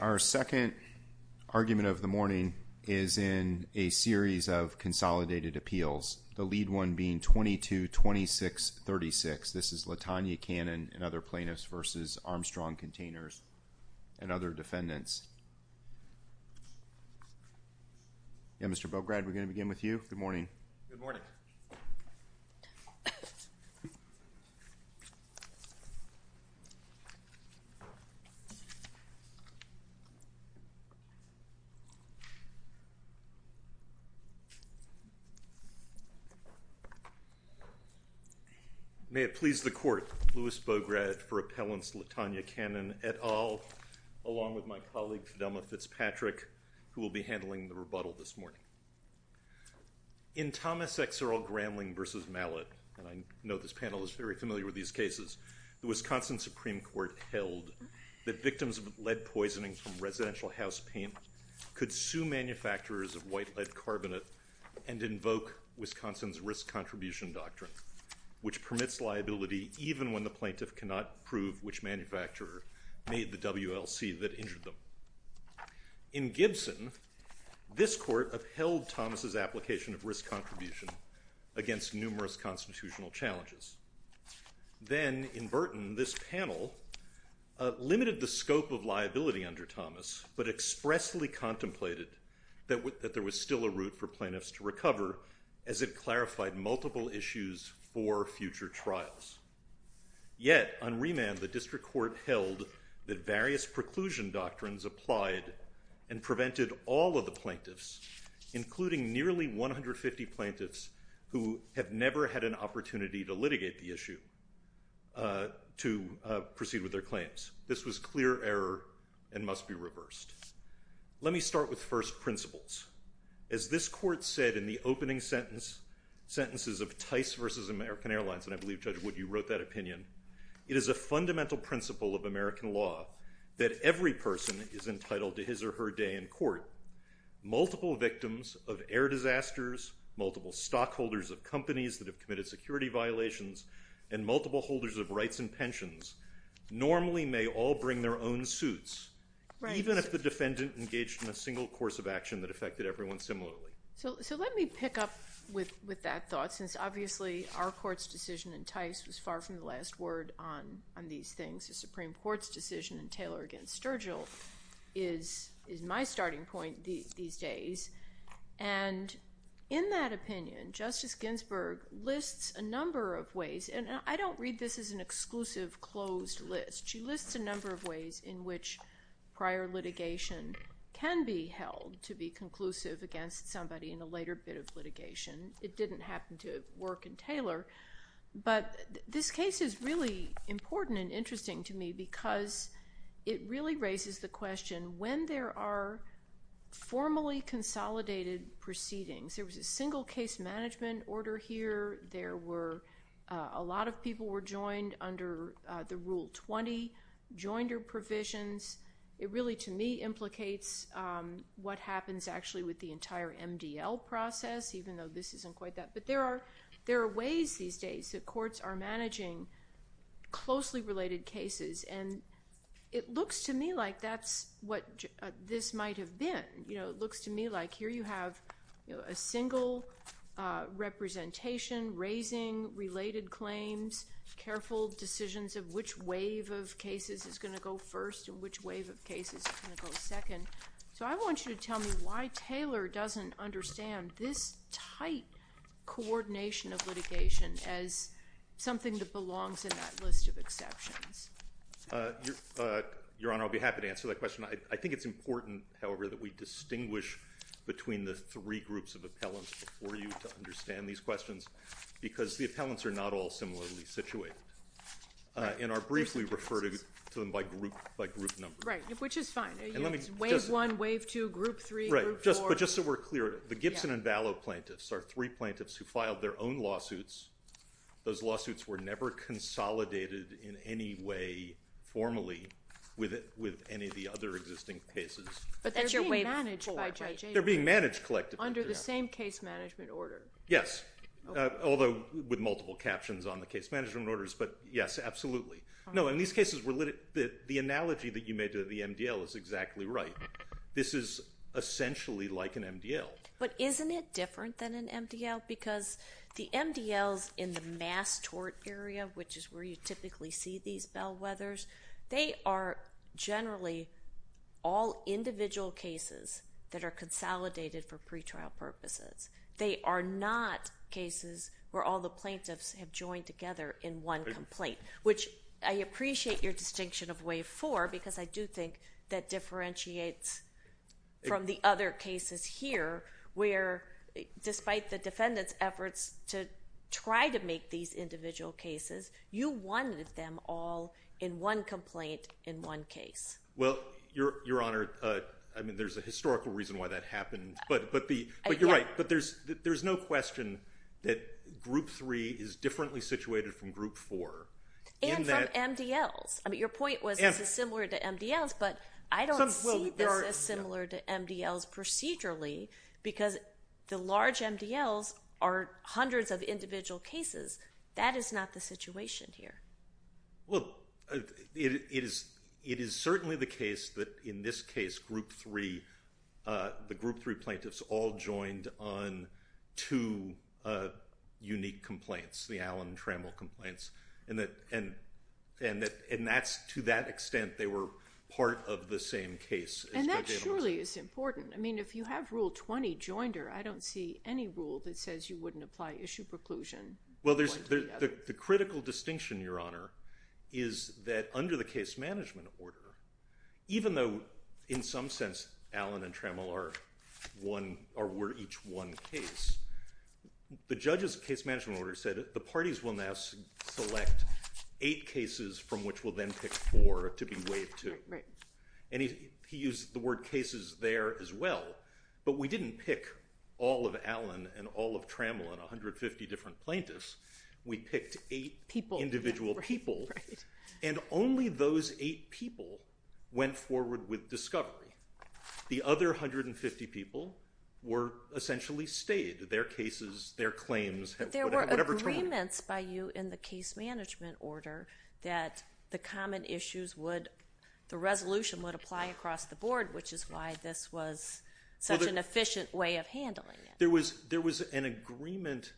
Our second argument of the morning is in a series of consolidated appeals, the lead one being 22-26-36. This is LaTonya Cannon and other plaintiffs versus Armstrong Containers and other defendants. Mr. Bograd, we're going to begin with you. Good morning. Good morning. May it please the court, Louis Bograd for appellants LaTonya Cannon et al., along with my colleague, Thelma Fitzpatrick, who will be handling the rebuttal this morning. In Thomas X. Earle Gramling v. Mallet, and I know this panel is very familiar with these cases, the Wisconsin Supreme Court held that victims of lead poisoning from residential house paint could sue manufacturers of white lead carbonate and invoke Wisconsin's risk contribution doctrine, which permits liability even when the plaintiff cannot prove which manufacturer made the WLC that injured them. In Gibson, this court upheld Thomas' application of risk contribution against numerous constitutional challenges. Then, in Burton, this panel limited the scope of liability under Thomas, but expressly contemplated that there was still a route for plaintiffs to recover, as it clarified multiple issues for future trials. Yet, on remand, the district court held that various preclusion doctrines applied and prevented all of the plaintiffs, including nearly 150 plaintiffs who have never had an opportunity to litigate the issue, to proceed with their claims. This was clear error and must be reversed. Let me start with first principles. As this court said in the opening sentences of Tice v. American Airlines, and I believe, Judge Wood, you wrote that opinion, it is a fundamental principle of American law that every person is entitled to his or her day in court. Multiple victims of air disasters, multiple stockholders of companies that have committed security violations, and multiple holders of rights and pensions normally may all bring their own suits, even if the defendant engaged in a single course of action that affected everyone similarly. So let me pick up with that thought, since obviously our court's decision in Tice was far from the last word on these things. The Supreme Court's decision in Taylor v. Sturgill is my starting point these days, and in that opinion, Justice Ginsburg lists a number of ways, and I don't read this as an exclusive closed list. She lists a number of ways in which prior litigation can be held to be conclusive against somebody in a later bit of litigation. It didn't happen to work in Taylor, but this case is really important and interesting to me because it really raises the question, when there are formally consolidated proceedings, there was a single case management order here, there were, a lot of people were joined under the Rule 20 joinder provisions, it really to me implicates what happens actually with the entire MDL process, even though this isn't quite that, but there are ways these days that courts are managing closely related cases, and it looks to me like that's what this might have been. It looks to me like here you have a single representation raising related claims, careful decisions of which wave of cases is going to go first and which wave of cases is going to go second. So I want you to tell me why Taylor doesn't understand this tight coordination of litigation as something that belongs in that list of exceptions. Your Honor, I'll be happy to answer that question. I think it's important, however, that we distinguish between the three groups of appellants before you to understand these questions because the appellants are not all similarly situated and are briefly referred to them by group numbers. Which is fine. Wave one, wave two, group three, group four. Right. But just so we're clear, the Gibson and Vallow plaintiffs are three plaintiffs who filed their own lawsuits. Those lawsuits were never consolidated in any way formally with any of the other existing cases. But that's your wave four, right? They're being managed collectively. Under the same case management order. Yes. Although with multiple captions on the case management orders, but yes, absolutely. No, in these cases, the analogy that you made to the MDL is exactly right. This is essentially like an MDL. But isn't it different than an MDL? Because the MDLs in the mass tort area, which is where you typically see these bellwethers, they are generally all individual cases that are consolidated for pretrial purposes. They are not cases where all the plaintiffs have joined together in one complaint, which I appreciate your distinction of wave four, because I do think that differentiates from the other cases here, where despite the defendant's efforts to try to make these individual cases, you wanted them all in one complaint in one case. Well, Your Honor, I mean, there's a historical reason why that happened. But you're right. But there's no question that group three is differently situated from group four. And from MDLs. I mean, your point was this is similar to MDLs, but I don't see this as similar to MDLs procedurally because the large MDLs are hundreds of individual cases. That is not the situation here. Well, it is certainly the case that in this case, group three, the group three plaintiffs all joined on two unique complaints, the Allen Trammell complaints. And to that extent, they were part of the same case. And that surely is important. I mean, if you have rule 20 joined her, I don't see any rule that says you wouldn't apply issue preclusion. Well, the critical distinction, Your Honor, is that under the case management order, even though in some sense Allen and Trammell are each one case, the judge's case management order said the parties will now select eight cases from which will then pick four to be waived to. And he used the word cases there as well, but we didn't pick all of Allen and all of the different plaintiffs. We picked eight people, individual people, and only those eight people went forward with discovery. The other 150 people were essentially stayed. Their cases, their claims, whatever term. But there were agreements by you in the case management order that the common issues would, the resolution would apply across the board, which is why this was such an efficient way of handling it. There was an agreement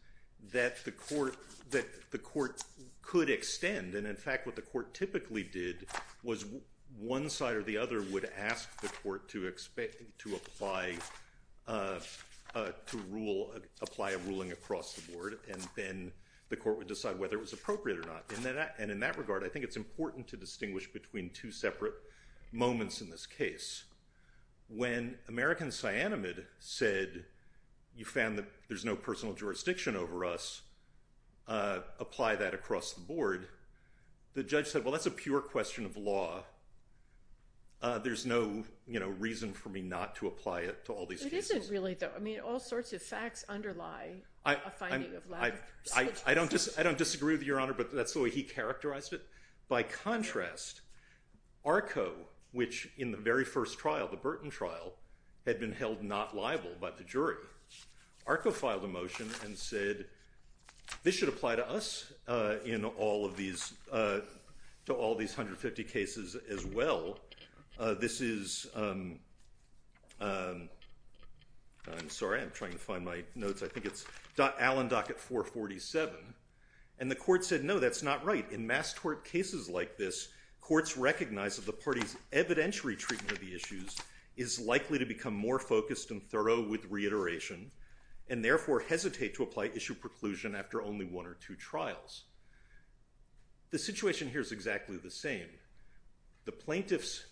that the court could extend. And in fact, what the court typically did was one side or the other would ask the court to apply a ruling across the board, and then the court would decide whether it was appropriate or not. And in that regard, I think it's important to distinguish between two separate moments in this case. When American Sianamid said, you found that there's no personal jurisdiction over us, apply that across the board, the judge said, well, that's a pure question of law. There's no reason for me not to apply it to all these cases. It isn't really, though. I mean, all sorts of facts underlie a finding of lack of such a process. I don't disagree with you, Your Honor, but that's the way he characterized it. By contrast, ARCO, which in the very first trial, the Burton trial, had been held not liable by the jury, ARCO filed a motion and said, this should apply to us in all of these, to all these 150 cases as well. This is, I'm sorry, I'm trying to find my notes, I think it's Allen Docket 447. And the court said, no, that's not right. In mass tort cases like this, courts recognize that the party's evidentiary treatment of the issues is likely to become more focused and thorough with reiteration, and therefore hesitate to apply issue preclusion after only one or two trials. The situation here is exactly the same. The plaintiffs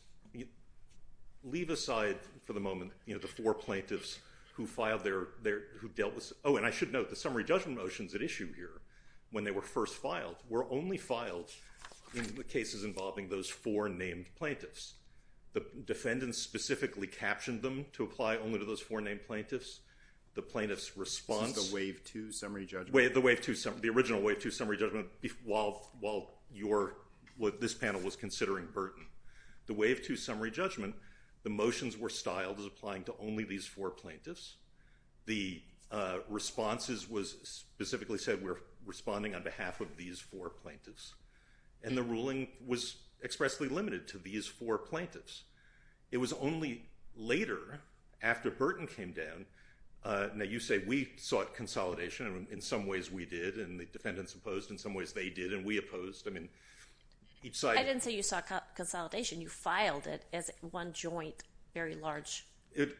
leave aside, for the moment, the four plaintiffs who filed their, who dealt with, oh, and I should note, the summary judgment motions at issue here, when they were first filed, in the cases involving those four named plaintiffs. The defendants specifically captioned them to apply only to those four named plaintiffs. The plaintiffs' response- This is the wave two summary judgment? The wave two, the original wave two summary judgment while your, what this panel was considering Burton. The wave two summary judgment, the motions were styled as applying to only these four plaintiffs. The responses was specifically said, we're responding on behalf of these four plaintiffs. And the ruling was expressly limited to these four plaintiffs. It was only later, after Burton came down, that you say, we sought consolidation, and in some ways we did, and the defendants opposed, and in some ways they did, and we opposed. I mean, each side- I didn't say you sought consolidation, you filed it as one joint, very large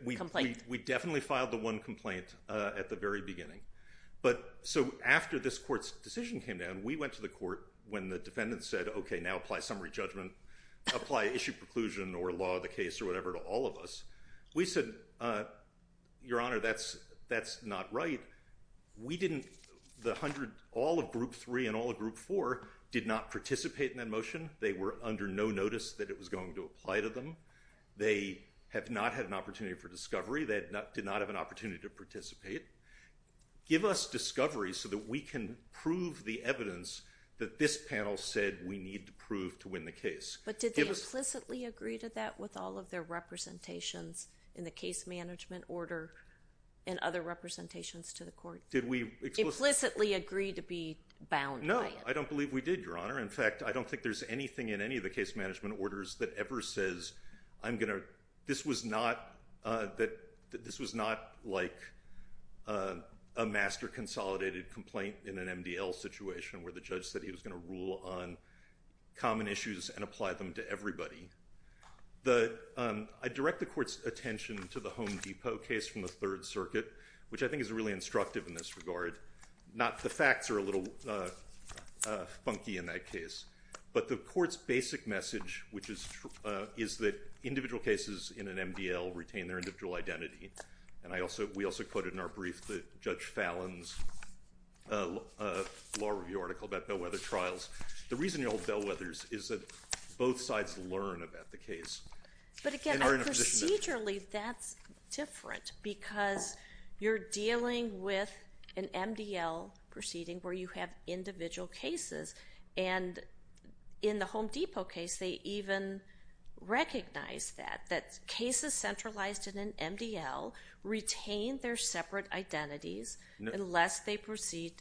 complaint. Complaint. We definitely filed the one complaint at the very beginning. But so after this court's decision came down, we went to the court when the defendants said, okay, now apply summary judgment, apply issue preclusion or law of the case or whatever to all of us. We said, your honor, that's not right. We didn't, the hundred, all of group three and all of group four did not participate in that motion. They were under no notice that it was going to apply to them. They have not had an opportunity for discovery, they did not have an opportunity to participate. Give us discovery so that we can prove the evidence that this panel said we need to prove to win the case. But did they implicitly agree to that with all of their representations in the case management order and other representations to the court? Did we- Implicitly agree to be bound by it? No, I don't believe we did, your honor. In fact, I don't think there's anything in any of the case management orders that ever says I'm going to, this was not that, this was not like a master consolidated complaint in an MDL situation where the judge said he was going to rule on common issues and apply them to everybody. The, I direct the court's attention to the Home Depot case from the third circuit, which I think is really instructive in this regard. Not the facts are a little funky in that case, but the court's basic message, which is that individual cases in an MDL retain their individual identity. And I also, we also quoted in our brief that Judge Fallon's law review article about bellwether trials. The reason you hold bellwethers is that both sides learn about the case and are in a position to- You have an MDL proceeding where you have individual cases and in the Home Depot case, they even recognize that, that cases centralized in an MDL retain their separate identities unless they proceed,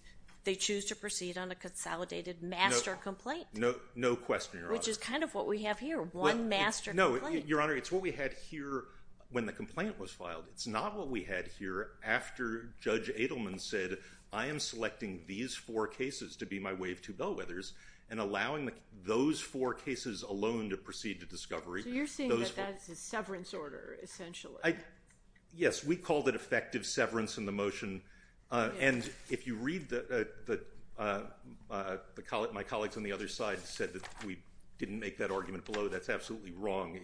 they choose to proceed on a consolidated master complaint. No question, your honor. Which is kind of what we have here. One master complaint. No, your honor, it's what we had here when the complaint was filed. It's not what we had here after Judge Adelman said, I am selecting these four cases to be my way of two bellwethers and allowing those four cases alone to proceed to discovery. So you're saying that that's a severance order, essentially. Yes, we called it effective severance in the motion. And if you read the, my colleagues on the other side said that we didn't make that argument below. That's absolutely wrong.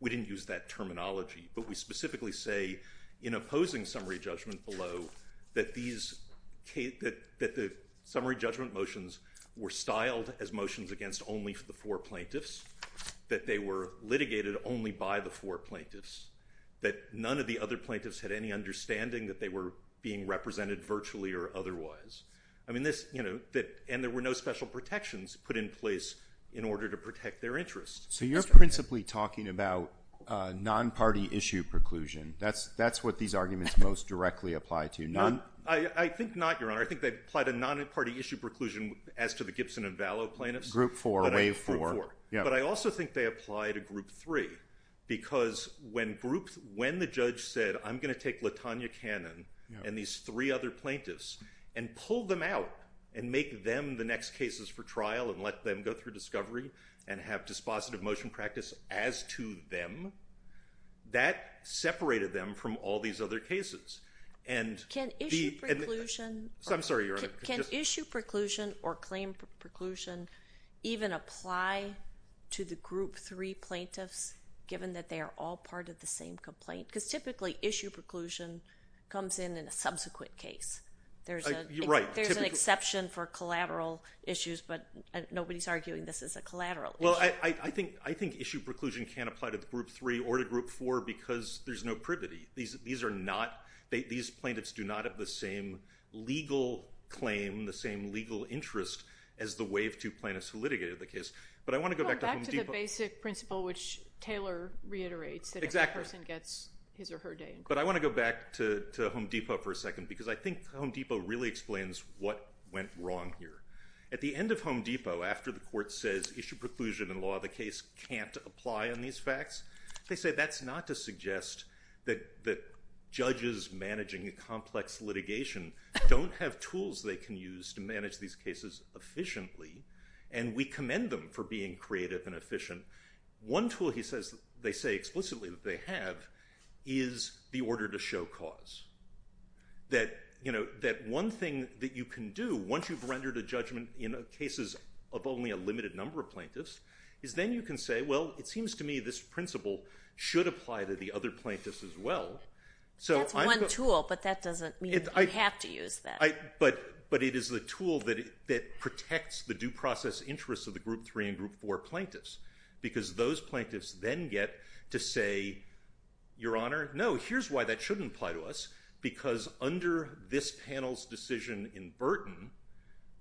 We didn't use that terminology, but we specifically say in opposing summary judgment below that these, that the summary judgment motions were styled as motions against only the four plaintiffs, that they were litigated only by the four plaintiffs, that none of the other plaintiffs had any understanding that they were being represented virtually or otherwise. I mean, this, you know, that, and there were no special protections put in place in order to protect their interests. So you're principally talking about a non-party issue preclusion. That's what these arguments most directly apply to. I think not, Your Honor. I think they applied a non-party issue preclusion as to the Gibson and Vallow plaintiffs. Group four, wave four. Group four, yeah. But I also think they apply to group three because when group, when the judge said, I'm going to take LaTanya Cannon and these three other plaintiffs and pull them out and make them the next cases for trial and let them go through discovery and have dispositive motion practice as to them, that separated them from all these other cases. And the- Can issue preclusion- I'm sorry, Your Honor. Can issue preclusion or claim preclusion even apply to the group three plaintiffs given that they are all part of the same complaint? Because typically issue preclusion comes in in a subsequent case. There's a- Right. There's a lot of collateral issues, but nobody's arguing this is a collateral issue. Well, I think issue preclusion can apply to the group three or to group four because there's no privity. These are not, these plaintiffs do not have the same legal claim, the same legal interest as the wave two plaintiffs who litigated the case. But I want to go back to Home Depot- Go back to the basic principle which Taylor reiterates, that every person gets his or her day in court. Exactly. But I want to go back to Home Depot for a second because I think Home Depot really explains what went wrong here. At the end of Home Depot, after the court says issue preclusion in law, the case can't apply on these facts, they say that's not to suggest that judges managing a complex litigation don't have tools they can use to manage these cases efficiently. And we commend them for being creative and efficient. One tool, he says, they say explicitly that they have is the order to show cause. That one thing that you can do, once you've rendered a judgment in cases of only a limited number of plaintiffs, is then you can say, well, it seems to me this principle should apply to the other plaintiffs as well. So I'm- That's one tool, but that doesn't mean you have to use that. But it is the tool that protects the due process interests of the group three and group four plaintiffs because those plaintiffs then get to say, your honor, no, here's why that shouldn't apply to us, because under this panel's decision in Burton,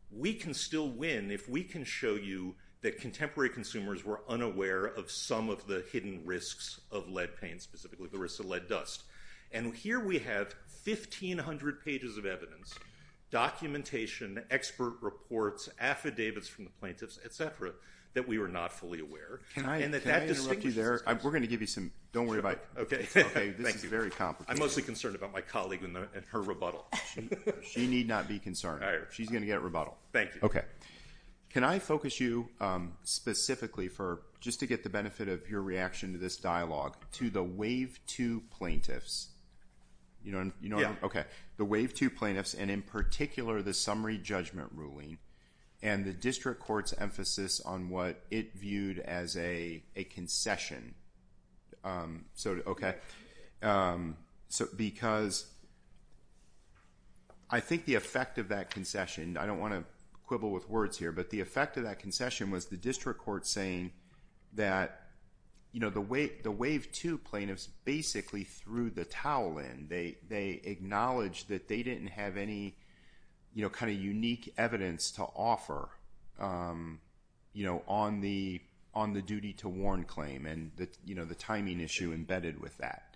we can still win if we can show you that contemporary consumers were unaware of some of the hidden risks of lead paint, specifically the risks of lead dust. And here we have 1,500 pages of evidence, documentation, expert reports, affidavits from the plaintiffs, et cetera, that we were not fully aware. Can I interrupt you there? We're going to give you some- Don't worry about it. Okay. This is very complicated. I'm mostly concerned about my colleague and her rebuttal. She need not be concerned. All right. She's going to get a rebuttal. Thank you. Okay. Can I focus you specifically for, just to get the benefit of your reaction to this dialogue, to the wave two plaintiffs? You know what I'm- Yeah. Okay. The wave two plaintiffs, and in particular, the summary judgment ruling and the district court's emphasis on what it viewed as a concession. Okay. Because I think the effect of that concession, I don't want to quibble with words here, but the effect of that concession was the district court saying that the wave two plaintiffs basically threw the towel in. They acknowledged that they didn't have any kind of unique evidence to offer on the duty to warn claim, and the timing issue embedded with that.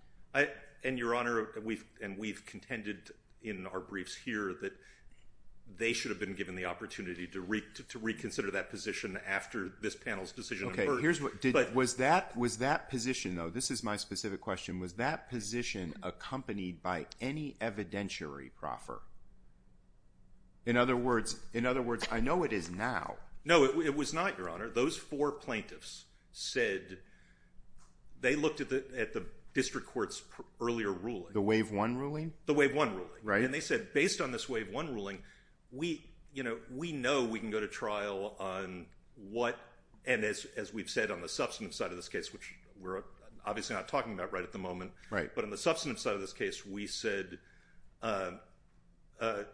And Your Honor, and we've contended in our briefs here that they should have been given the opportunity to reconsider that position after this panel's decision- Okay. Here's what- Was that position, though, this is my specific question, was that position accompanied by any evidentiary proffer? In other words, I know it is now. No. It was not, Your Honor. Those four plaintiffs said, they looked at the district court's earlier ruling. The wave one ruling? The wave one ruling. Right. And they said, based on this wave one ruling, we know we can go to trial on what, and as we've said on the substantive side of this case, which we're obviously not talking about right at the moment, but on the substantive side of this case, we said that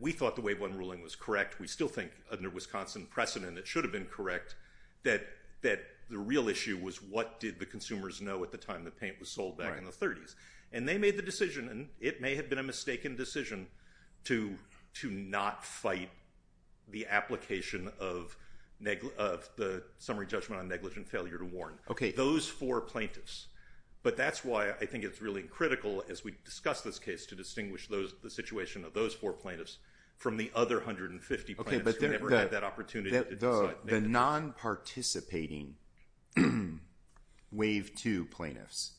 we thought the wave one ruling was correct. We still think, under Wisconsin precedent, it should have been correct, that the real issue was what did the consumers know at the time the paint was sold back in the 30s. And they made the decision, and it may have been a mistaken decision, to not fight the application of the summary judgment on negligent failure to warn. Those four plaintiffs. But that's why I think it's really critical, as we discuss this case, to distinguish the from the other 150 plaintiffs who never had that opportunity to decide negligence. The non-participating wave two plaintiffs,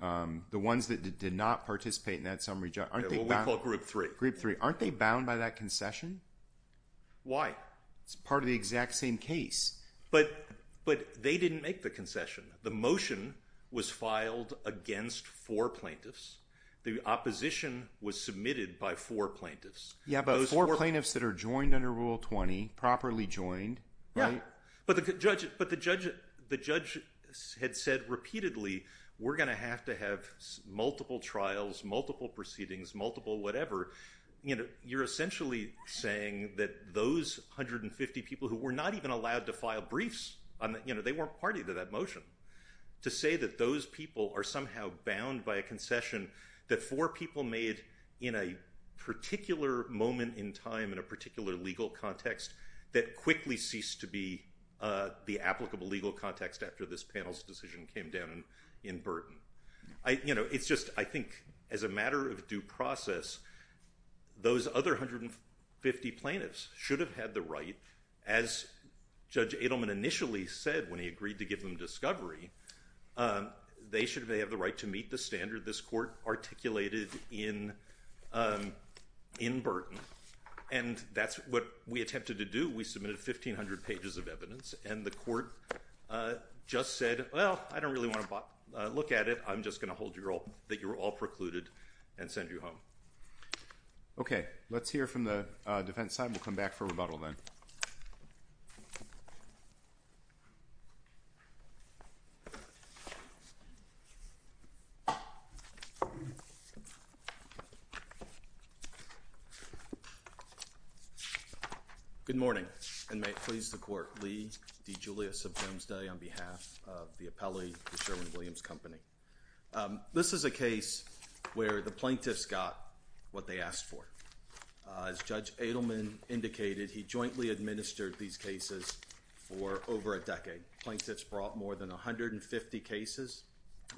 the ones that did not participate in that summary judgment, aren't they bound? Yeah, what we call group three. Group three. Aren't they bound by that concession? Why? It's part of the exact same case. But they didn't make the concession. The motion was filed against four plaintiffs. The opposition was submitted by four plaintiffs. Yeah, but four plaintiffs that are joined under Rule 20, properly joined, right? Yeah. But the judge had said repeatedly, we're going to have to have multiple trials, multiple proceedings, multiple whatever. You're essentially saying that those 150 people who were not even allowed to file briefs, they weren't party to that motion, to say that those people are somehow bound by a concession that four people made in a particular moment in time, in a particular legal context, that quickly ceased to be the applicable legal context after this panel's decision came down in Burton. It's just, I think, as a matter of due process, those other 150 plaintiffs should have had the right, as Judge Adelman initially said when he agreed to give them discovery, they should have been articulated in Burton. And that's what we attempted to do. We submitted 1,500 pages of evidence. And the court just said, well, I don't really want to look at it. I'm just going to hold you all, that you were all precluded, and send you home. OK. Let's hear from the defense side. We'll come back for rebuttal then. Good morning, and may it please the court, Lee D. Julius of Domesday, on behalf of the appellee, the Sherwin-Williams Company. This is a case where the plaintiffs got what they asked for. As Judge Adelman indicated, he jointly administered these cases for over a decade. Plaintiffs brought more than 150 cases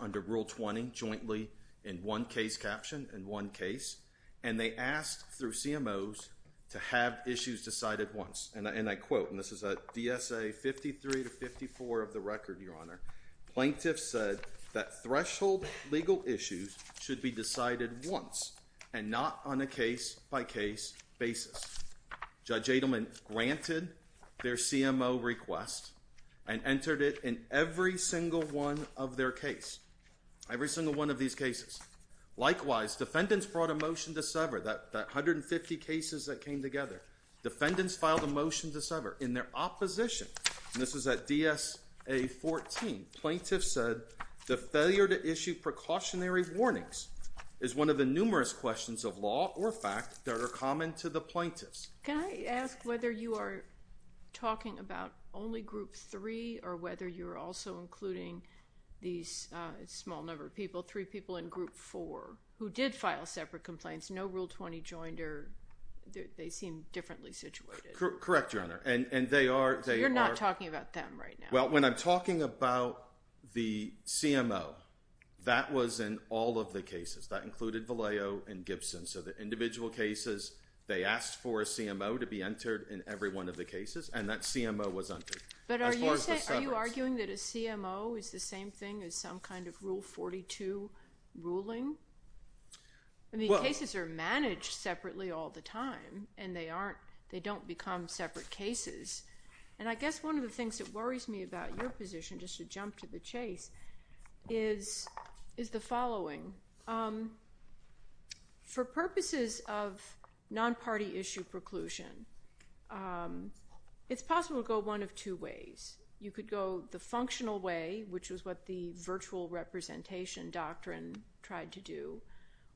under Rule 20, jointly in one case caption, in one case. And they asked, through CMOs, to have issues decided once. And I quote, and this is a DSA 53 to 54 of the record, Your Honor. Plaintiffs said that threshold legal issues should be decided once, and not on a case by case basis. Judge Adelman granted their CMO request, and entered it in every single one of their case. Every single one of these cases. Likewise, defendants brought a motion to sever that 150 cases that came together. Defendants filed a motion to sever. In their opposition, and this is at DSA 14, plaintiffs said, the failure to issue precautionary warnings is one of the numerous questions of law or fact that are common to the plaintiffs. Can I ask whether you are talking about only Group 3, or whether you're also including these small number of people, three people in Group 4, who did file separate complaints, no Rule 20 joined, or they seem differently situated? Correct, Your Honor. So you're not talking about them right now? Well, when I'm talking about the CMO, that was in all of the cases, that included Vallejo and Gibson. So the individual cases, they asked for a CMO to be entered in every one of the cases, and that CMO was entered. But are you arguing that a CMO is the same thing as some kind of Rule 42 ruling? I mean, cases are managed separately all the time, and they don't become separate cases. And I guess one of the things that worries me about your position, just to jump to the chase, is the following. For purposes of non-party issue preclusion, it's possible to go one of two ways. You could go the functional way, which was what the virtual representation doctrine tried to do,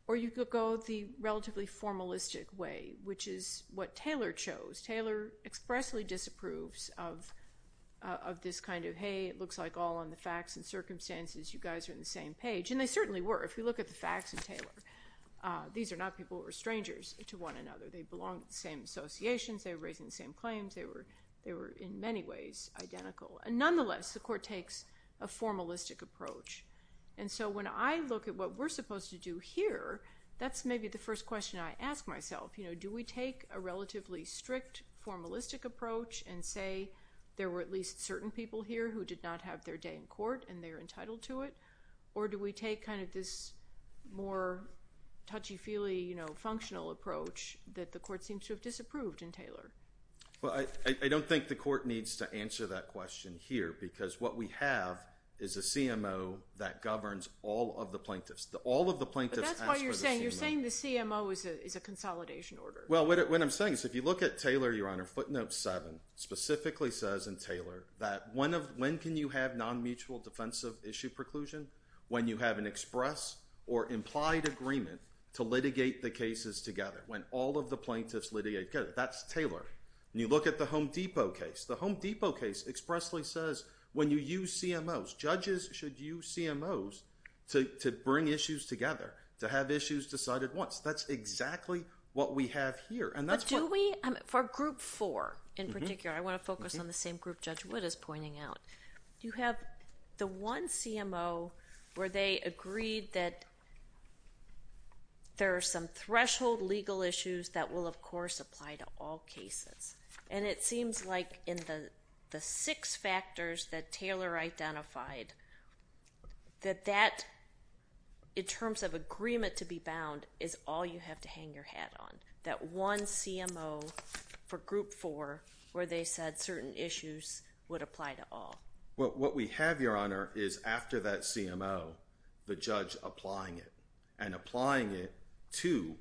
or you could go the relatively formalistic way, which is what Taylor chose. Taylor expressly disapproves of this kind of, hey, it looks like all on the facts and circumstances, you guys are on the same page. And they certainly were. If you look at the facts of Taylor, these are not people who are strangers to one another. They belong to the same associations, they were raising the same claims, they were in many ways identical. And nonetheless, the court takes a formalistic approach. And so when I look at what we're supposed to do here, that's maybe the first question I ask myself. You know, do we take a relatively strict formalistic approach and say there were at least certain people here who did not have their day in court and they're entitled to it? Or do we take kind of this more touchy-feely, you know, functional approach that the court seems to have disapproved in Taylor? Well, I don't think the court needs to answer that question here, because what we have is a CMO that governs all of the plaintiffs. All of the plaintiffs ask for the CMO. But that's what you're saying. You're saying the CMO is a consolidation order. Well, what I'm saying is if you look at Taylor, Your Honor, footnote seven specifically says in Taylor that when can you have non-mutual defensive issue preclusion? When you have an express or implied agreement to litigate the cases together. When all of the plaintiffs litigate, that's Taylor. And you look at the Home Depot case. The Home Depot case expressly says when you use CMOs, judges should use CMOs to bring issues together, to have issues decided once. That's exactly what we have here. But do we? For group four in particular, I want to focus on the same group Judge Wood is pointing out. You have the one CMO where they agreed that there are some threshold legal issues that will, of course, apply to all cases. And it seems like in the six factors that Taylor identified, that that, in terms of agreement to be bound, is all you have to hang your hat on, that one CMO for group four where they said certain issues would apply to all. What we have, Your Honor, is after that CMO, the judge applying it and applying it to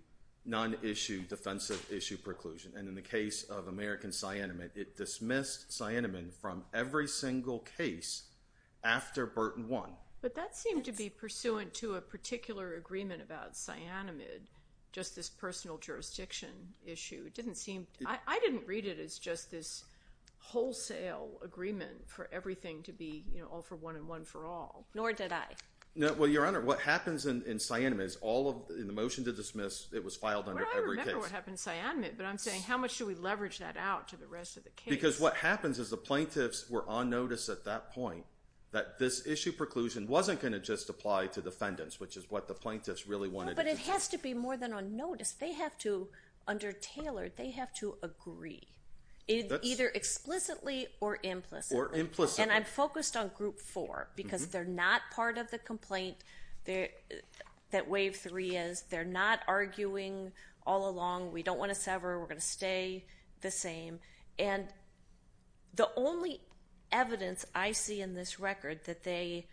non-issue defensive issue preclusion. And in the case of American Cyanamid, it dismissed Cyanamid from every single case after Burton won. But that seemed to be pursuant to a particular agreement about Cyanamid, just this personal jurisdiction issue. It didn't seem, I didn't read it as just this wholesale agreement for everything to be all for one and one for all. Nor did I. No, well, Your Honor, what happens in Cyanamid is all of, in the motion to dismiss, it was filed under every case. I'm not sure what happened in Cyanamid, but I'm saying how much do we leverage that out to the rest of the case? Because what happens is the plaintiffs were on notice at that point that this issue preclusion wasn't going to just apply to defendants, which is what the plaintiffs really wanted to do. No, but it has to be more than on notice. They have to, under Taylor, they have to agree, either explicitly or implicitly. Or implicitly. And I'm focused on group four because they're not part of the complaint that wave three is. They're not arguing all along, we don't want to sever, we're going to stay the same. And the only evidence I see in this record that they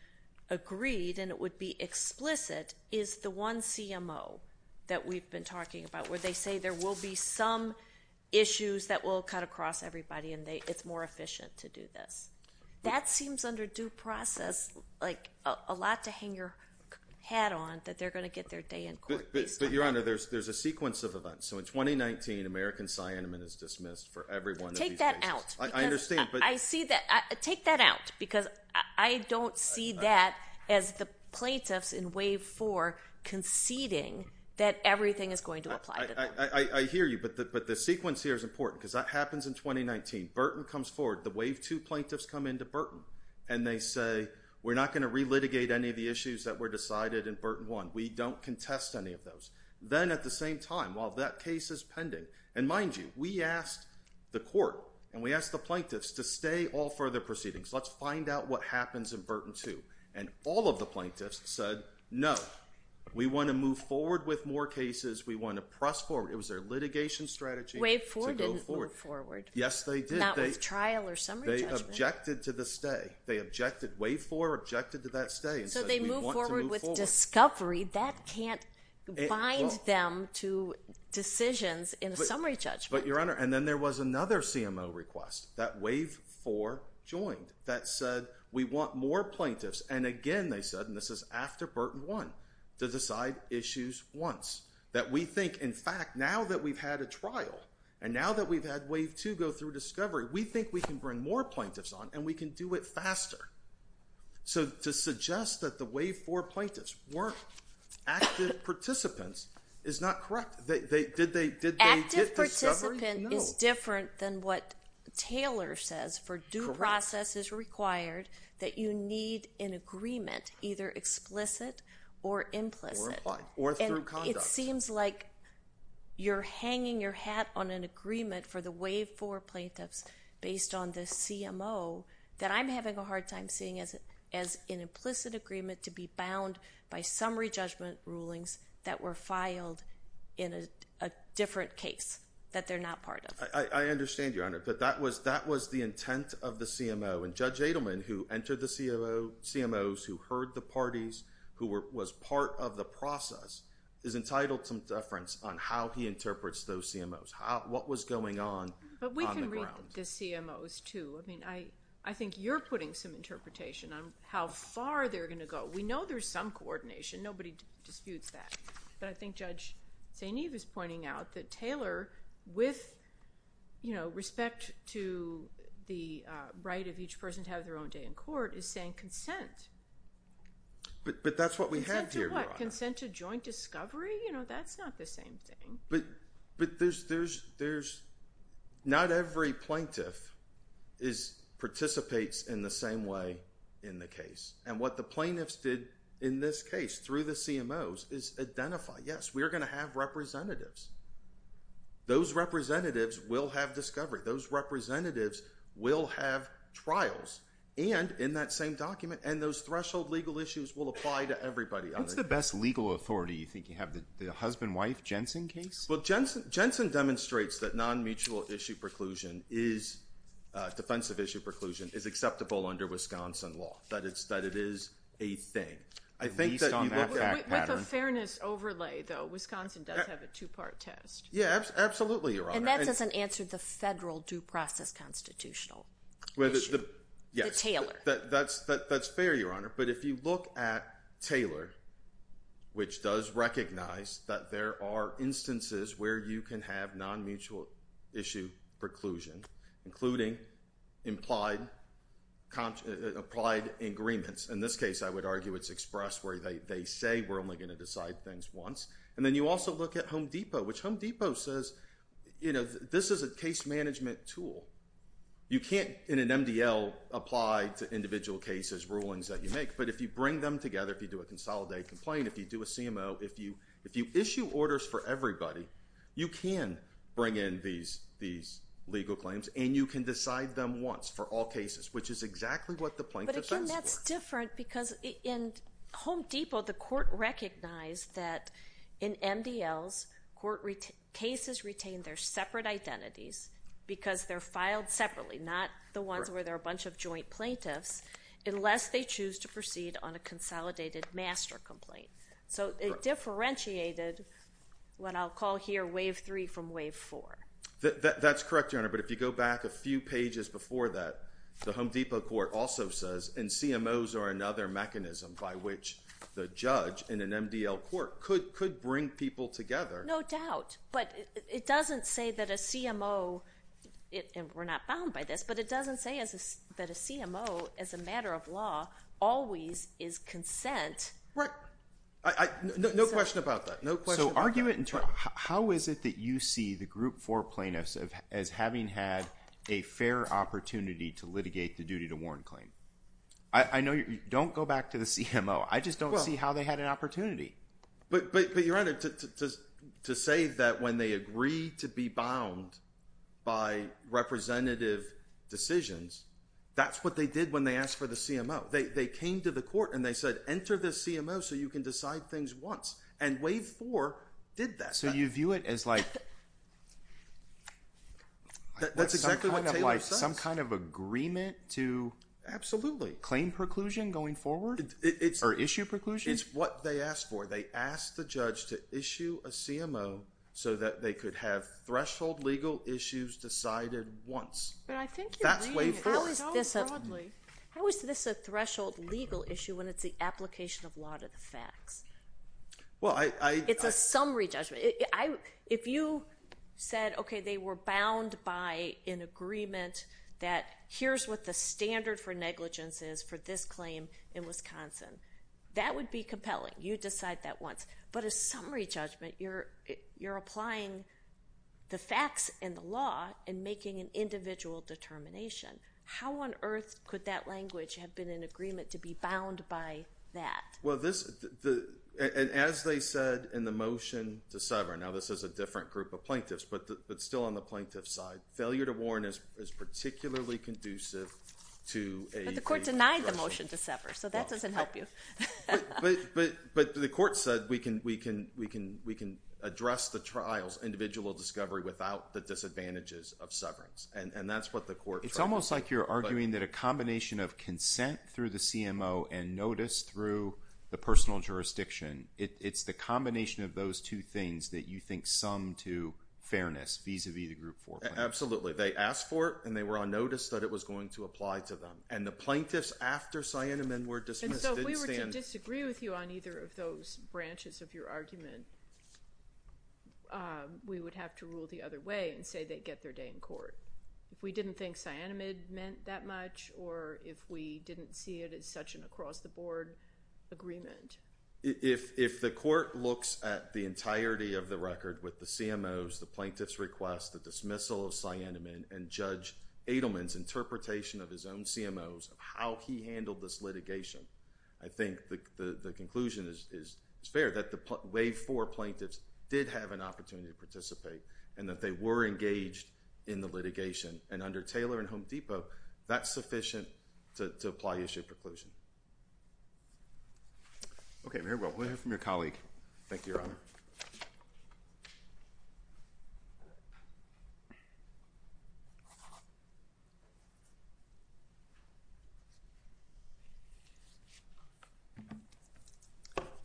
agreed and it would be explicit is the one CMO that we've been talking about where they say there will be some issues that will cut across everybody and it's more efficient to do this. That seems under due process like a lot to hang your hat on that they're going to get their day in court based on that. But your honor, there's a sequence of events. So in 2019, American Cyanaman is dismissed for every one of these cases. Take that out. I understand. I see that. Take that out. Because I don't see that as the plaintiffs in wave four conceding that everything is going to apply to them. I hear you, but the sequence here is important because that happens in 2019. Burton comes forward. The wave two plaintiffs come into Burton and they say, we're not going to re-litigate any of the issues that were decided in Burton one. We don't contest any of those. Then at the same time, while that case is pending, and mind you, we asked the court and we asked the plaintiffs to stay all further proceedings. Let's find out what happens in Burton two. And all of the plaintiffs said, no, we want to move forward with more cases. We want to press forward. It was their litigation strategy. Wave four didn't move forward. Yes, they did. Not with trial or summary judgment. They objected to the stay. They objected. Wave four objected to that stay. So they move forward with discovery. That can't bind them to decisions in a summary judgment. But Your Honor, and then there was another CMO request that wave four joined that said, we want more plaintiffs. And again, they said, and this is after Burton one, to decide issues once. That we think, in fact, now that we've had a trial and now that we've had wave two go through discovery, we think we can bring more plaintiffs on and we can do it faster. So to suggest that the wave four plaintiffs weren't active participants is not correct. Did they get discovery? Active participant is different than what Taylor says for due process is required that you need an agreement, either explicit or implicit. Or through conduct. And it seems like you're hanging your hat on an agreement for the wave four plaintiffs based on the CMO that I'm having a hard time seeing as an implicit agreement to be bound by summary judgment rulings that were filed in a different case that they're not part I understand, Your Honor. But that was the intent of the CMO. And Judge Adelman, who entered the CMOs, who heard the parties, who was part of the process, is entitled to deference on how he interprets those CMOs. What was going on on the ground? But we can read the CMOs, too. I mean, I think you're putting some interpretation on how far they're going to go. We know there's some coordination. Nobody disputes that. But I think Judge St. Eve is pointing out that Taylor, with, you know, respect to the right of each person to have their own day in court, is saying consent. But that's what we had here, Your Honor. Consent to what? Consent to joint discovery? You know, that's not the same thing. But there's, not every plaintiff participates in the same way in the case. And what the plaintiffs did in this case, through the CMOs, is identify, yes, we are going to have representatives. Those representatives will have discovery. Those representatives will have trials. And, in that same document, and those threshold legal issues will apply to everybody. What's the best legal authority? You think you have the husband-wife Jensen case? Well, Jensen demonstrates that non-mutual issue preclusion is, defensive issue preclusion, is acceptable under Wisconsin law. That it is a thing. At least on that fact pattern. With a fairness overlay, though, Wisconsin does have a two-part test. Yeah, absolutely, Your Honor. And that doesn't answer the federal due process constitutional issue. Yes. The Taylor. That's fair, Your Honor. But if you look at Taylor, which does recognize that there are instances where you can have non-mutual issue preclusion, including implied, applied agreements. In this case, I would argue it's expressed where they say we're only going to decide things once. And then you also look at Home Depot, which Home Depot says, you know, this is a case management tool. You can't, in an MDL, apply to individual cases, rulings that you make. But if you bring them together, if you do a consolidated complaint, if you do a CMO, if you issue orders for everybody, you can bring in these legal claims. And you can decide them once for all cases, which is exactly what the plaintiff says. But again, that's different because in Home Depot, the court recognized that in MDLs, cases retain their separate identities because they're filed separately, not the ones where there are a bunch of joint plaintiffs, unless they choose to proceed on a consolidated master complaint. So, it differentiated what I'll call here wave three from wave four. That's correct, Your Honor. But if you go back a few pages before that, the Home Depot court also says, and CMOs are another mechanism by which the judge in an MDL court could bring people together. No doubt. But it doesn't say that a CMO, and we're not bound by this, but it doesn't say that a CMO as a matter of law always is consent. Right. No question about that. No question about that. So, argue it in turn. How is it that you see the group four plaintiffs as having had a fair opportunity to litigate the duty to warn claim? Don't go back to the CMO. I just don't see how they had an opportunity. But, Your Honor, to say that when they agreed to be bound by representative decisions, that's what they did when they asked for the CMO. They came to the court and they said, enter this CMO so you can decide things once. And wave four did that. So, you view it as like, that's exactly what Taylor says. Some kind of agreement to claim preclusion going forward? Or issue preclusion? It's what they asked for. They asked the judge to issue a CMO so that they could have threshold legal issues decided once. That's wave four. How is this a threshold legal issue when it's the application of law to the facts? It's a summary judgment. If you said, okay, they were bound by an agreement that here's what the standard for negligence is for this claim in Wisconsin. That would be compelling. You decide that once. But a summary judgment, you're applying the facts and the law and making an individual determination. How on earth could that language have been an agreement to be bound by that? Well, as they said in the motion to sever, now this is a different group of plaintiffs, but still on the plaintiff's side. Failure to warn is particularly conducive to a... You denied the motion to sever, so that doesn't help you. But the court said we can address the trials, individual discovery, without the disadvantages of severance. And that's what the court tried to do. It's almost like you're arguing that a combination of consent through the CMO and notice through the personal jurisdiction, it's the combination of those two things that you think sum to fairness vis-a-vis the group four plaintiffs. Absolutely. They asked for it and they were on notice that it was going to apply to them. And the plaintiffs after Sienemann were dismissed didn't stand... And so if we were to disagree with you on either of those branches of your argument, we would have to rule the other way and say they get their day in court. If we didn't think Sienemann meant that much or if we didn't see it as such an across-the-board agreement. If the court looks at the entirety of the record with the CMOs, the plaintiffs' request, the dismissal of Sienemann and Judge Adelman's interpretation of his own CMOs of how he handled this litigation, I think the conclusion is fair that the wave four plaintiffs did have an opportunity to participate and that they were engaged in the litigation. And under Taylor and Home Depot, that's sufficient to apply issue of preclusion. Okay. Very well. We'll hear from your colleague. Thank you, Your Honor. Thank you.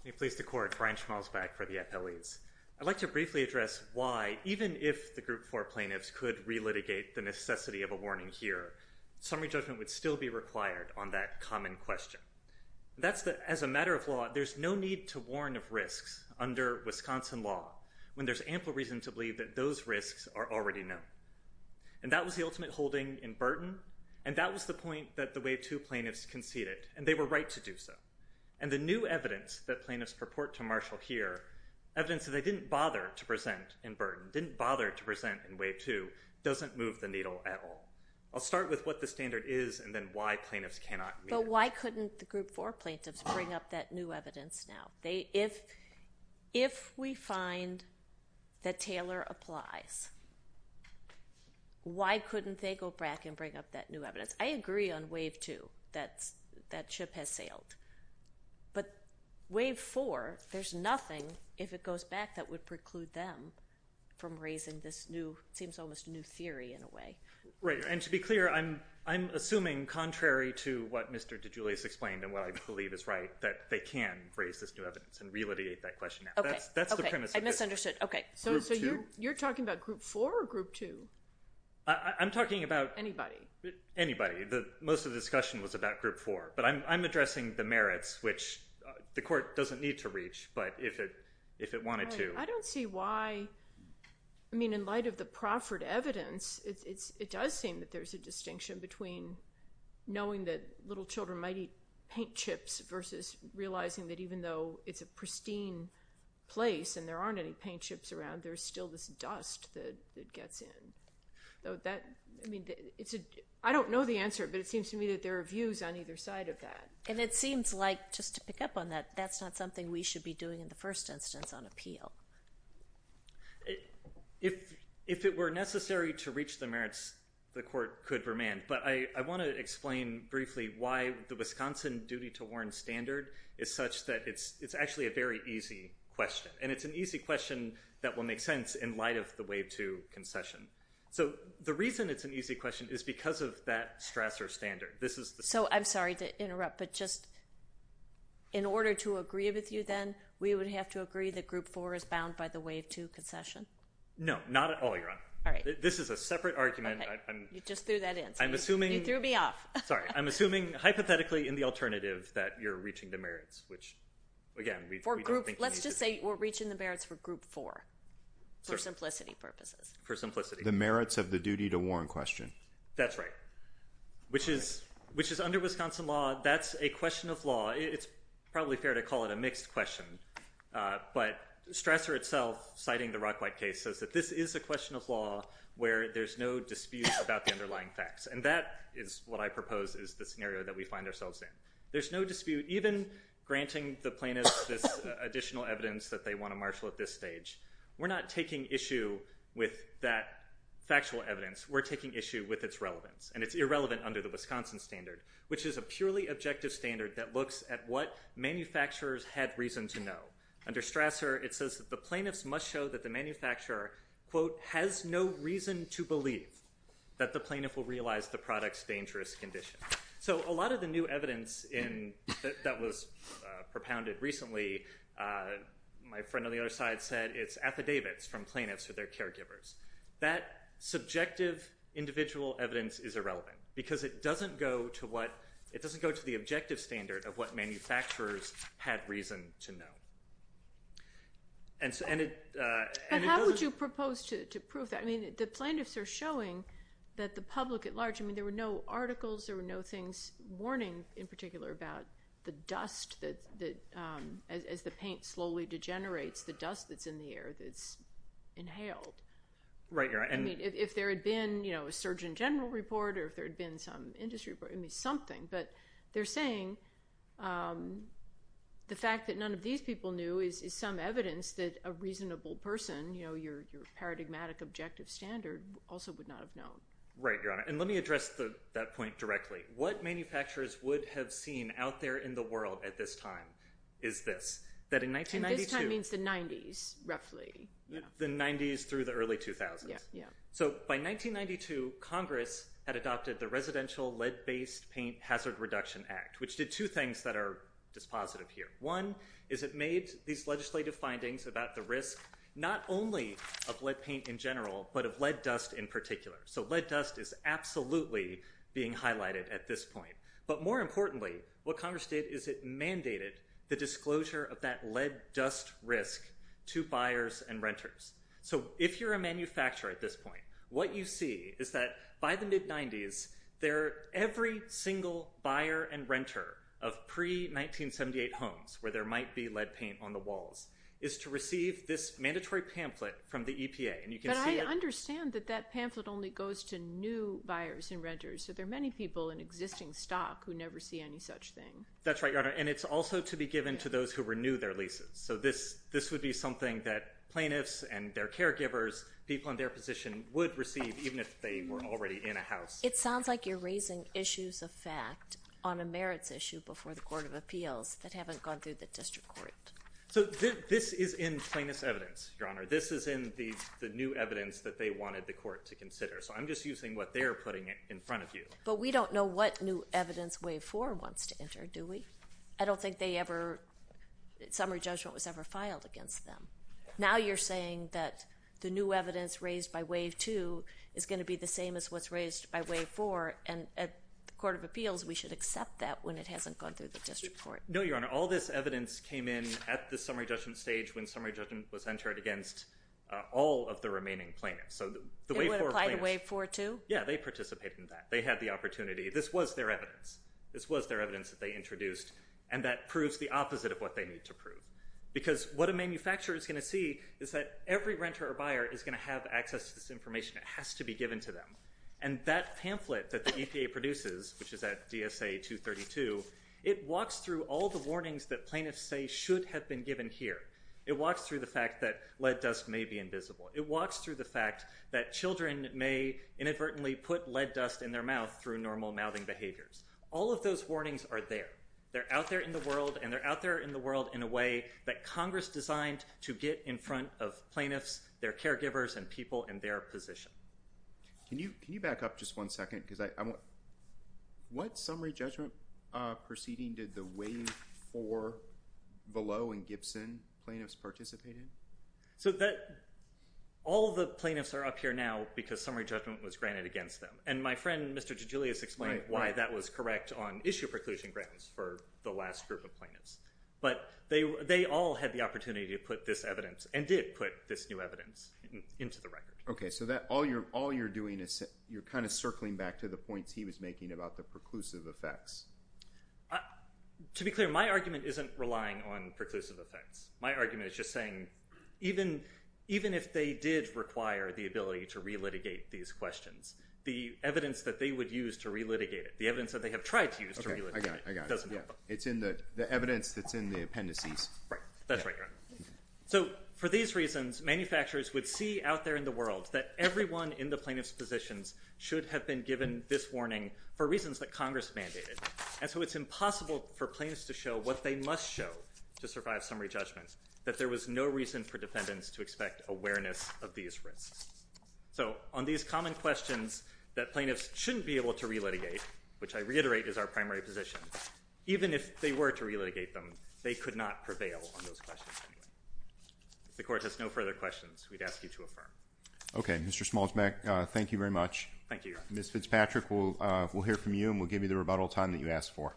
May it please the Court. Brian Schmalz back for the appellees. I'd like to briefly address why, even if the group four plaintiffs could relitigate the necessity of a warning here, summary judgment would still be required on that common question. That's the... As a matter of law, there's no need to warn of risks under Wisconsin law when there's ample reason to believe that those risks are already known. And that was the ultimate holding in Burton, and that was the point that the wave two plaintiffs conceded, and they were right to do so. And the new evidence that plaintiffs purport to marshal here, evidence that they didn't bother to present in Burton, didn't bother to present in wave two, doesn't move the needle at all. I'll start with what the standard is and then why plaintiffs cannot meet it. But why couldn't the group four plaintiffs bring up that new evidence now? If we find that Taylor applies, why couldn't they go back and bring up that new evidence? I agree on wave two, that ship has sailed. But wave four, there's nothing, if it goes back, that would preclude them from raising this new... It seems almost a new theory in a way. Right. And to be clear, I'm assuming, contrary to what Mr. DeJulius explained and what I believe is right, that they can raise this new evidence and relitigate that question now. Okay. That's the premise of it. Okay. I misunderstood. Okay. Group two. So you're talking about group four or group two? I'm talking about... Anybody. Anybody. Most of the discussion was about group four, but I'm addressing the merits, which the court doesn't need to reach, but if it wanted to... I don't see why... I mean, in light of the proffered evidence, it does seem that there's a distinction between knowing that little children might eat paint chips versus realizing that even though it's a pristine place and there aren't any paint chips around, there's still this dust that gets in. I mean, I don't know the answer, but it seems to me that there are views on either side of that. And it seems like, just to pick up on that, that's not something we should be doing in the first instance on appeal. If it were necessary to reach the merits, the court could remand. But I want to explain briefly why the Wisconsin duty to warn standard is such that it's actually a very easy question, and it's an easy question that will make sense in light of the wave two concession. So the reason it's an easy question is because of that stressor standard. This is the... So I'm sorry to interrupt, but just in order to agree with you then, we would have to agree that group four is bound by the wave two concession? No, not at all, Your Honor. All right. This is a separate argument. Okay. You just threw that in. I'm assuming... You threw me off. Sorry. I'm assuming hypothetically in the alternative that you're reaching the merits, which again, we don't think... Let's just say we're reaching the merits for group four for simplicity purposes. For simplicity. The merits of the duty to warn question. That's right, which is under Wisconsin law. That's a question of law. It's probably fair to call it a mixed question, but stressor itself, citing the Rockwhite case, says that this is a question of law where there's no dispute about the underlying facts. And that is what I propose is the scenario that we find ourselves in. There's no dispute, even granting the plaintiffs this additional evidence that they want to marshal at this stage. We're not taking issue with that factual evidence. We're taking issue with its relevance. And it's irrelevant under the Wisconsin standard, which is a purely objective standard that looks at what manufacturers had reason to know. Under stressor, it says that the plaintiffs must show that the manufacturer, quote, has no reason to believe that the plaintiff will realize the product's dangerous condition. So a lot of the new evidence that was propounded recently, my friend on the other side said it's affidavits from plaintiffs or their caregivers. That subjective individual evidence is irrelevant because it doesn't go to the objective standard of what manufacturers had reason to know. And it doesn't... But how would you propose to prove that? I mean, the plaintiffs are showing that the public at large, I mean, there were no articles, there were no things, warning in particular, about the dust that, as the paint slowly degenerates, the dust that's in the air that's inhaled. Right. I mean, if there had been, you know, a Surgeon General report or if there had been some industry report, I mean, something, but they're saying the fact that none of these people knew is some evidence that a reasonable person, you know, your paradigmatic objective standard also would not have known. Right, Your Honor. And let me address that point directly. What manufacturers would have seen out there in the world at this time is this, that in 1992... And this time means the 90s, roughly. The 90s through the early 2000s. Yeah, yeah. So by 1992, Congress had adopted the Residential Lead-Based Paint Hazard Reduction Act, which did two things that are dispositive here. One is it made these legislative findings about the risk, not only of lead paint in general, but of lead dust in particular. So lead dust is absolutely being highlighted at this point. But more importantly, what Congress did is it mandated the disclosure of that lead dust risk to buyers and renters. So if you're a manufacturer at this point, what you see is that by the mid-90s, every single buyer and renter of pre-1978 homes where there might be lead paint on the walls is to receive this mandatory pamphlet from the EPA. But I understand that that pamphlet only goes to new buyers and renters, so there are many people in existing stock who never see any such thing. That's right, Your Honor. And it's also to be given to those who renew their leases. So this would be something that plaintiffs and their caregivers, people in their position, would receive even if they were already in a house. It sounds like you're raising issues of fact on a merits issue before the Court of Appeals that haven't gone through the District Court. So this is in plaintiff's evidence, Your Honor. This is in the new evidence that they wanted the Court to consider. So I'm just using what they're putting in front of you. But we don't know what new evidence Wave 4 wants to enter, do we? I don't think summary judgment was ever filed against them. Now you're saying that the new evidence raised by Wave 2 is going to be the same as what's raised by Wave 4, and at the Court of Appeals we should accept that when it hasn't gone through the District Court. No, Your Honor. All this evidence came in at the summary judgment stage when summary judgment was entered against all of the remaining plaintiffs. It would apply to Wave 4 too? Yeah. They participated in that. They had the opportunity. This was their evidence. And that proves the opposite of what they need to prove. Because what a manufacturer is going to see is that every renter or buyer is going to have access to this information that has to be given to them. And that pamphlet that the EPA produces, which is at DSA 232, it walks through all the warnings that plaintiffs say should have been given here. It walks through the fact that lead dust may be invisible. It walks through the fact that children may inadvertently put lead dust in their mouth through normal mouthing behaviors. All of those warnings are there. They're out there in the world, and they're out there in the world in a way that Congress designed to get in front of plaintiffs, their caregivers, and people in their position. Can you back up just one second? What summary judgment proceeding did the Wave 4 below in Gibson plaintiffs participate in? All of the plaintiffs are up here now because summary judgment was granted against them. And my friend, Mr. DeGiulio, has explained why that was correct on issue preclusion grants for the last group of plaintiffs. But they all had the opportunity to put this evidence and did put this new evidence into the record. Okay. So all you're doing is you're kind of circling back to the points he was making about the preclusive effects. To be clear, my argument isn't relying on preclusive effects. My argument is just saying even if they did require the ability to re-litigate these questions, the evidence that they would use to re-litigate it, the evidence that they have tried to use to re-litigate it, doesn't help them. It's in the evidence that's in the appendices. Right. That's right. So for these reasons, manufacturers would see out there in the world that everyone in the plaintiff's positions should have been given this warning for reasons that Congress mandated. And so it's impossible for plaintiffs to show what they must show to survive summary judgment, that there was no reason for defendants to expect awareness of these risks. So on these common questions that plaintiffs shouldn't be able to re-litigate, which I reiterate is our primary position, even if they were to re-litigate them, they could not prevail on those questions anyway. If the Court has no further questions, we'd ask you to affirm. Okay. Mr. Smallsback, thank you very much. Thank you. Ms. Fitzpatrick, we'll hear from you and we'll give you the rebuttal time that you asked for.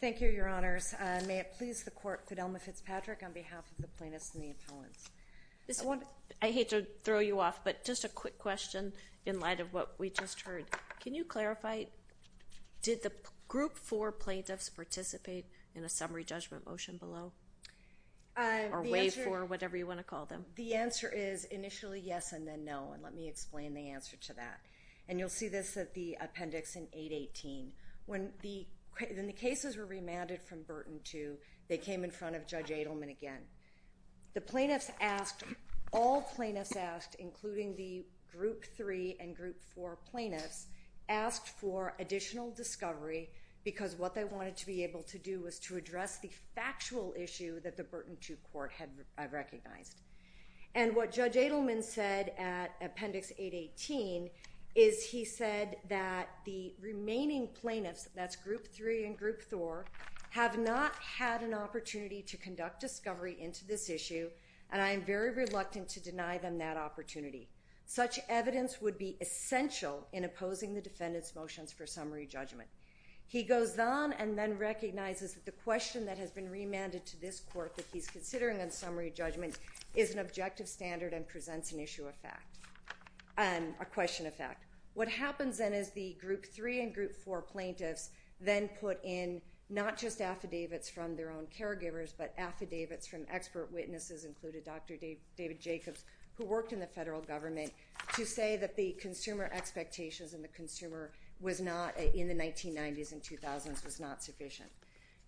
Thank you, Your Honors. May it please the Court, Fidelma Fitzpatrick, on behalf of the plaintiffs and the appellants. I hate to throw you off, but just a quick question in light of what we just heard. Can you clarify, did the Group 4 plaintiffs participate in the summary judgment motion below? Or Wave 4, whatever you want to call them. The answer is initially yes and then no, and let me explain the answer to that. You'll see this at the appendix in 818. When the cases were remanded from Burton 2, they came in front of Judge Adelman again. The plaintiffs asked, all plaintiffs asked, including the Group 3 and Group 4 plaintiffs, asked for additional discovery because what they wanted to be able to do was to address the factual issue that the Burton 2 Court had recognized. And what Judge Adelman said at appendix 818 is he said that the remaining plaintiffs, that's Group 3 and Group 4, have not had an opportunity to conduct discovery into this issue and I am very reluctant to deny them that opportunity. Such evidence would be essential in opposing the defendant's motions for summary judgment. He goes on and then recognizes that the question that has been remanded to this Court that he's considering on summary judgment is an objective standard and presents an issue of fact, a question of fact. What happens then is the Group 3 and Group 4 plaintiffs then put in not just affidavits from their own caregivers but affidavits from expert witnesses, including Dr. David Jacobs, who worked in the federal government, to say that the consumer expectations and the consumer in the 1990s and 2000s was not sufficient.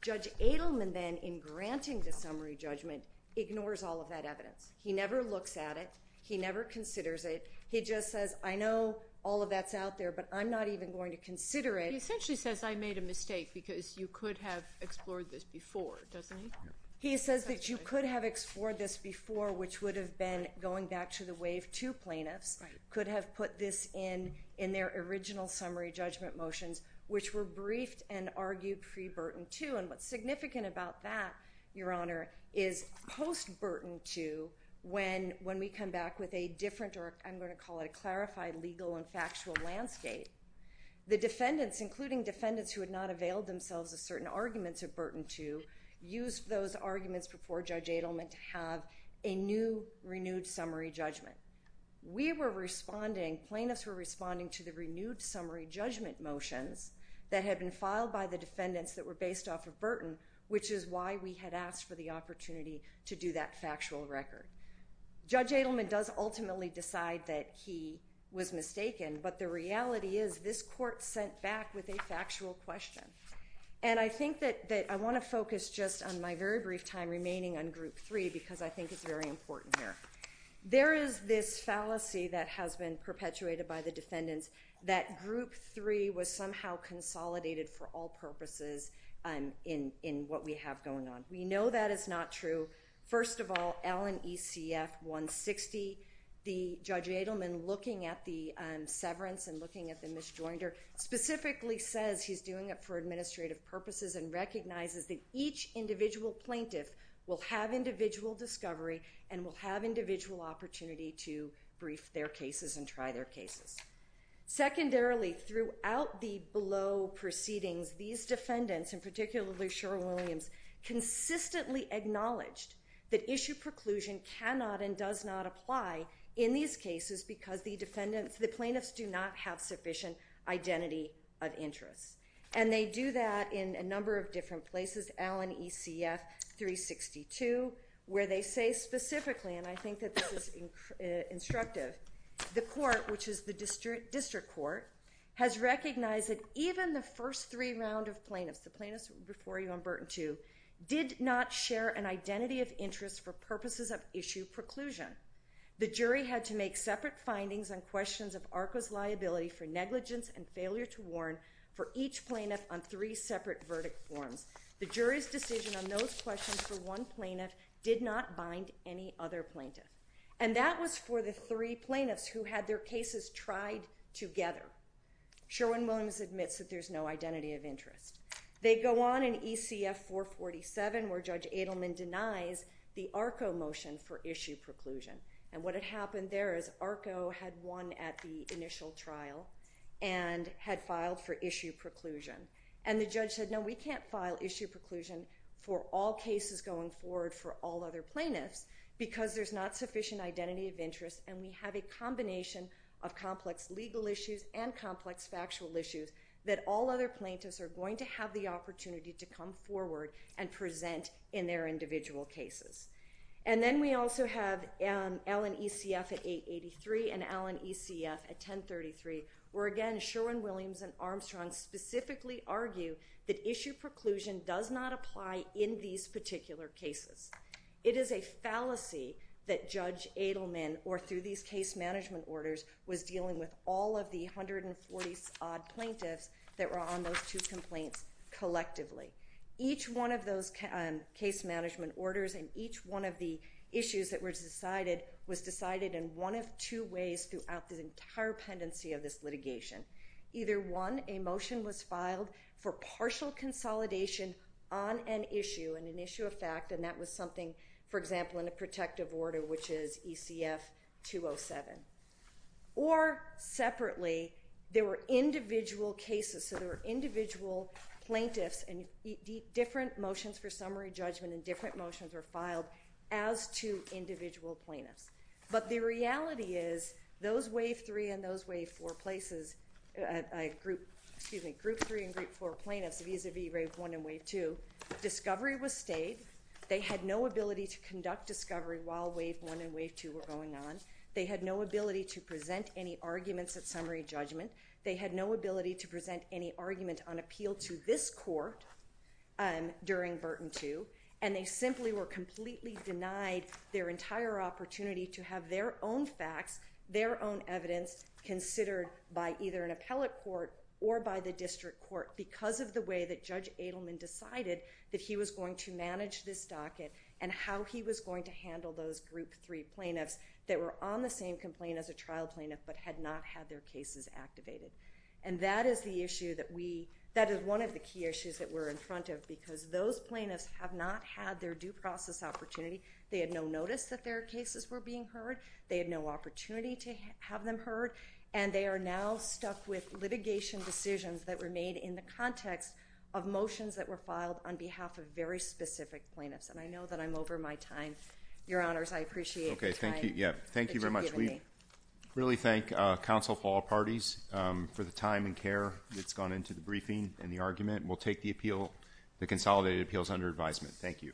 Judge Adelman then, in granting the summary judgment, ignores all of that evidence. He never looks at it. He never considers it. He just says, I know all of that's out there, but I'm not even going to consider it. He essentially says, I made a mistake because you could have explored this before, doesn't he? He says that you could have explored this before, which would have been going back to the Wave 2 plaintiffs, could have put this in in their original summary judgment motions, which were briefed and argued pre-Burton 2, and what's significant about that, Your Honor, is post-Burton 2, when we come back with a different, or I'm going to call it a clarified legal and factual landscape, the defendants, including defendants who had not availed themselves of certain arguments of Burton 2, used those arguments before Judge Adelman to have a new renewed summary judgment. We were responding, plaintiffs were responding to the renewed summary judgment motions that had been filed by the defendants that were based off of Burton, which is why we had asked for the opportunity to do that factual record. Judge Adelman does ultimately decide that he was mistaken, but the reality is this court sent back with a factual question. And I think that I want to focus just on my very brief time remaining on Group 3 because I think it's very important here. There is this fallacy that has been perpetuated by the defendants that Group 3 was somehow consolidated for all purposes in what we have going on. We know that is not true. First of all, Allen ECF 160, Judge Adelman, looking at the severance and looking at the misjoinder, specifically says he's doing it for administrative purposes and recognizes that each individual plaintiff will have individual discovery and will have individual opportunity to brief their cases and try their cases. Secondarily, throughout the below proceedings, these defendants, and particularly Sheryl Williams, consistently acknowledged that issue preclusion cannot and does not apply in these cases because the plaintiffs do not have sufficient identity of interest. And they do that in a number of different places, Allen ECF 362, where they say specifically, and I think that this is instructive, the court, which is the district court, has recognized that even the first three rounds of plaintiffs, the plaintiffs before you on Burton 2, did not share an identity of interest for purposes of issue preclusion. The jury had to make separate findings on questions of ARCA's liability for negligence and failure to warn for each plaintiff on three separate verdict forms. The jury's decision on those questions for one plaintiff did not bind any other plaintiff. And that was for the three plaintiffs who had their cases tried together. Sherwin-Williams admits that there's no identity of interest. They go on in ECF 447, where Judge Adelman denies the ARCA motion for issue preclusion. And what had happened there is ARCA had won at the initial trial and had filed for issue preclusion. And the judge said, no, we can't file issue preclusion for all cases going forward for all other plaintiffs because there's not sufficient identity of interest and we have a combination of complex legal issues and complex factual issues that all other plaintiffs are going to have the opportunity to come forward and present in their individual cases. And then we also have Allen ECF at 883 and Allen ECF at 1033, where, again, Sherwin-Williams and Armstrong specifically argue that issue preclusion does not apply in these particular cases. It is a fallacy that Judge Adelman, or through these case management orders, was dealing with all of the 140-odd plaintiffs that were on those two complaints collectively. Each one of those case management orders and each one of the issues that were decided was decided in one of two ways throughout the entire pendency of this litigation. Either, one, a motion was filed for partial consolidation on an issue, an issue of fact, and that was something, for example, in a protective order, which is ECF 207. Or, separately, there were individual cases, so there were individual plaintiffs, and different motions for summary judgment and different motions were filed as to individual plaintiffs. But the reality is those Wave 3 and those Wave 4 places excuse me, Group 3 and Group 4 plaintiffs, vis-à-vis Wave 1 and Wave 2, discovery was stayed. They had no ability to conduct discovery while Wave 1 and Wave 2 were going on. They had no ability to present any arguments at summary judgment. They had no ability to present any argument on appeal to this court during Burton 2, and they simply were completely denied their entire opportunity to have their own facts, their own evidence, considered by either an appellate court or by the district court because of the way that Judge Adelman decided that he was going to manage this docket and how he was going to handle those Group 3 plaintiffs that were on the same complaint as a trial plaintiff but had not had their cases activated. And that is the issue that we, that is one of the key issues that we're in front of because those plaintiffs have not had their due process opportunity. They had no notice that their cases were being heard. They had no opportunity to have them heard, and they are now stuck with litigation decisions that were made in the context of motions that were filed on behalf of very specific plaintiffs. And I know that I'm over my time. Your Honors, I appreciate the time that you've given me. Thank you very much. We really thank counsel for all parties for the time and care that's gone into the briefing and the argument. We'll take the consolidated appeals under advisement. Thank you.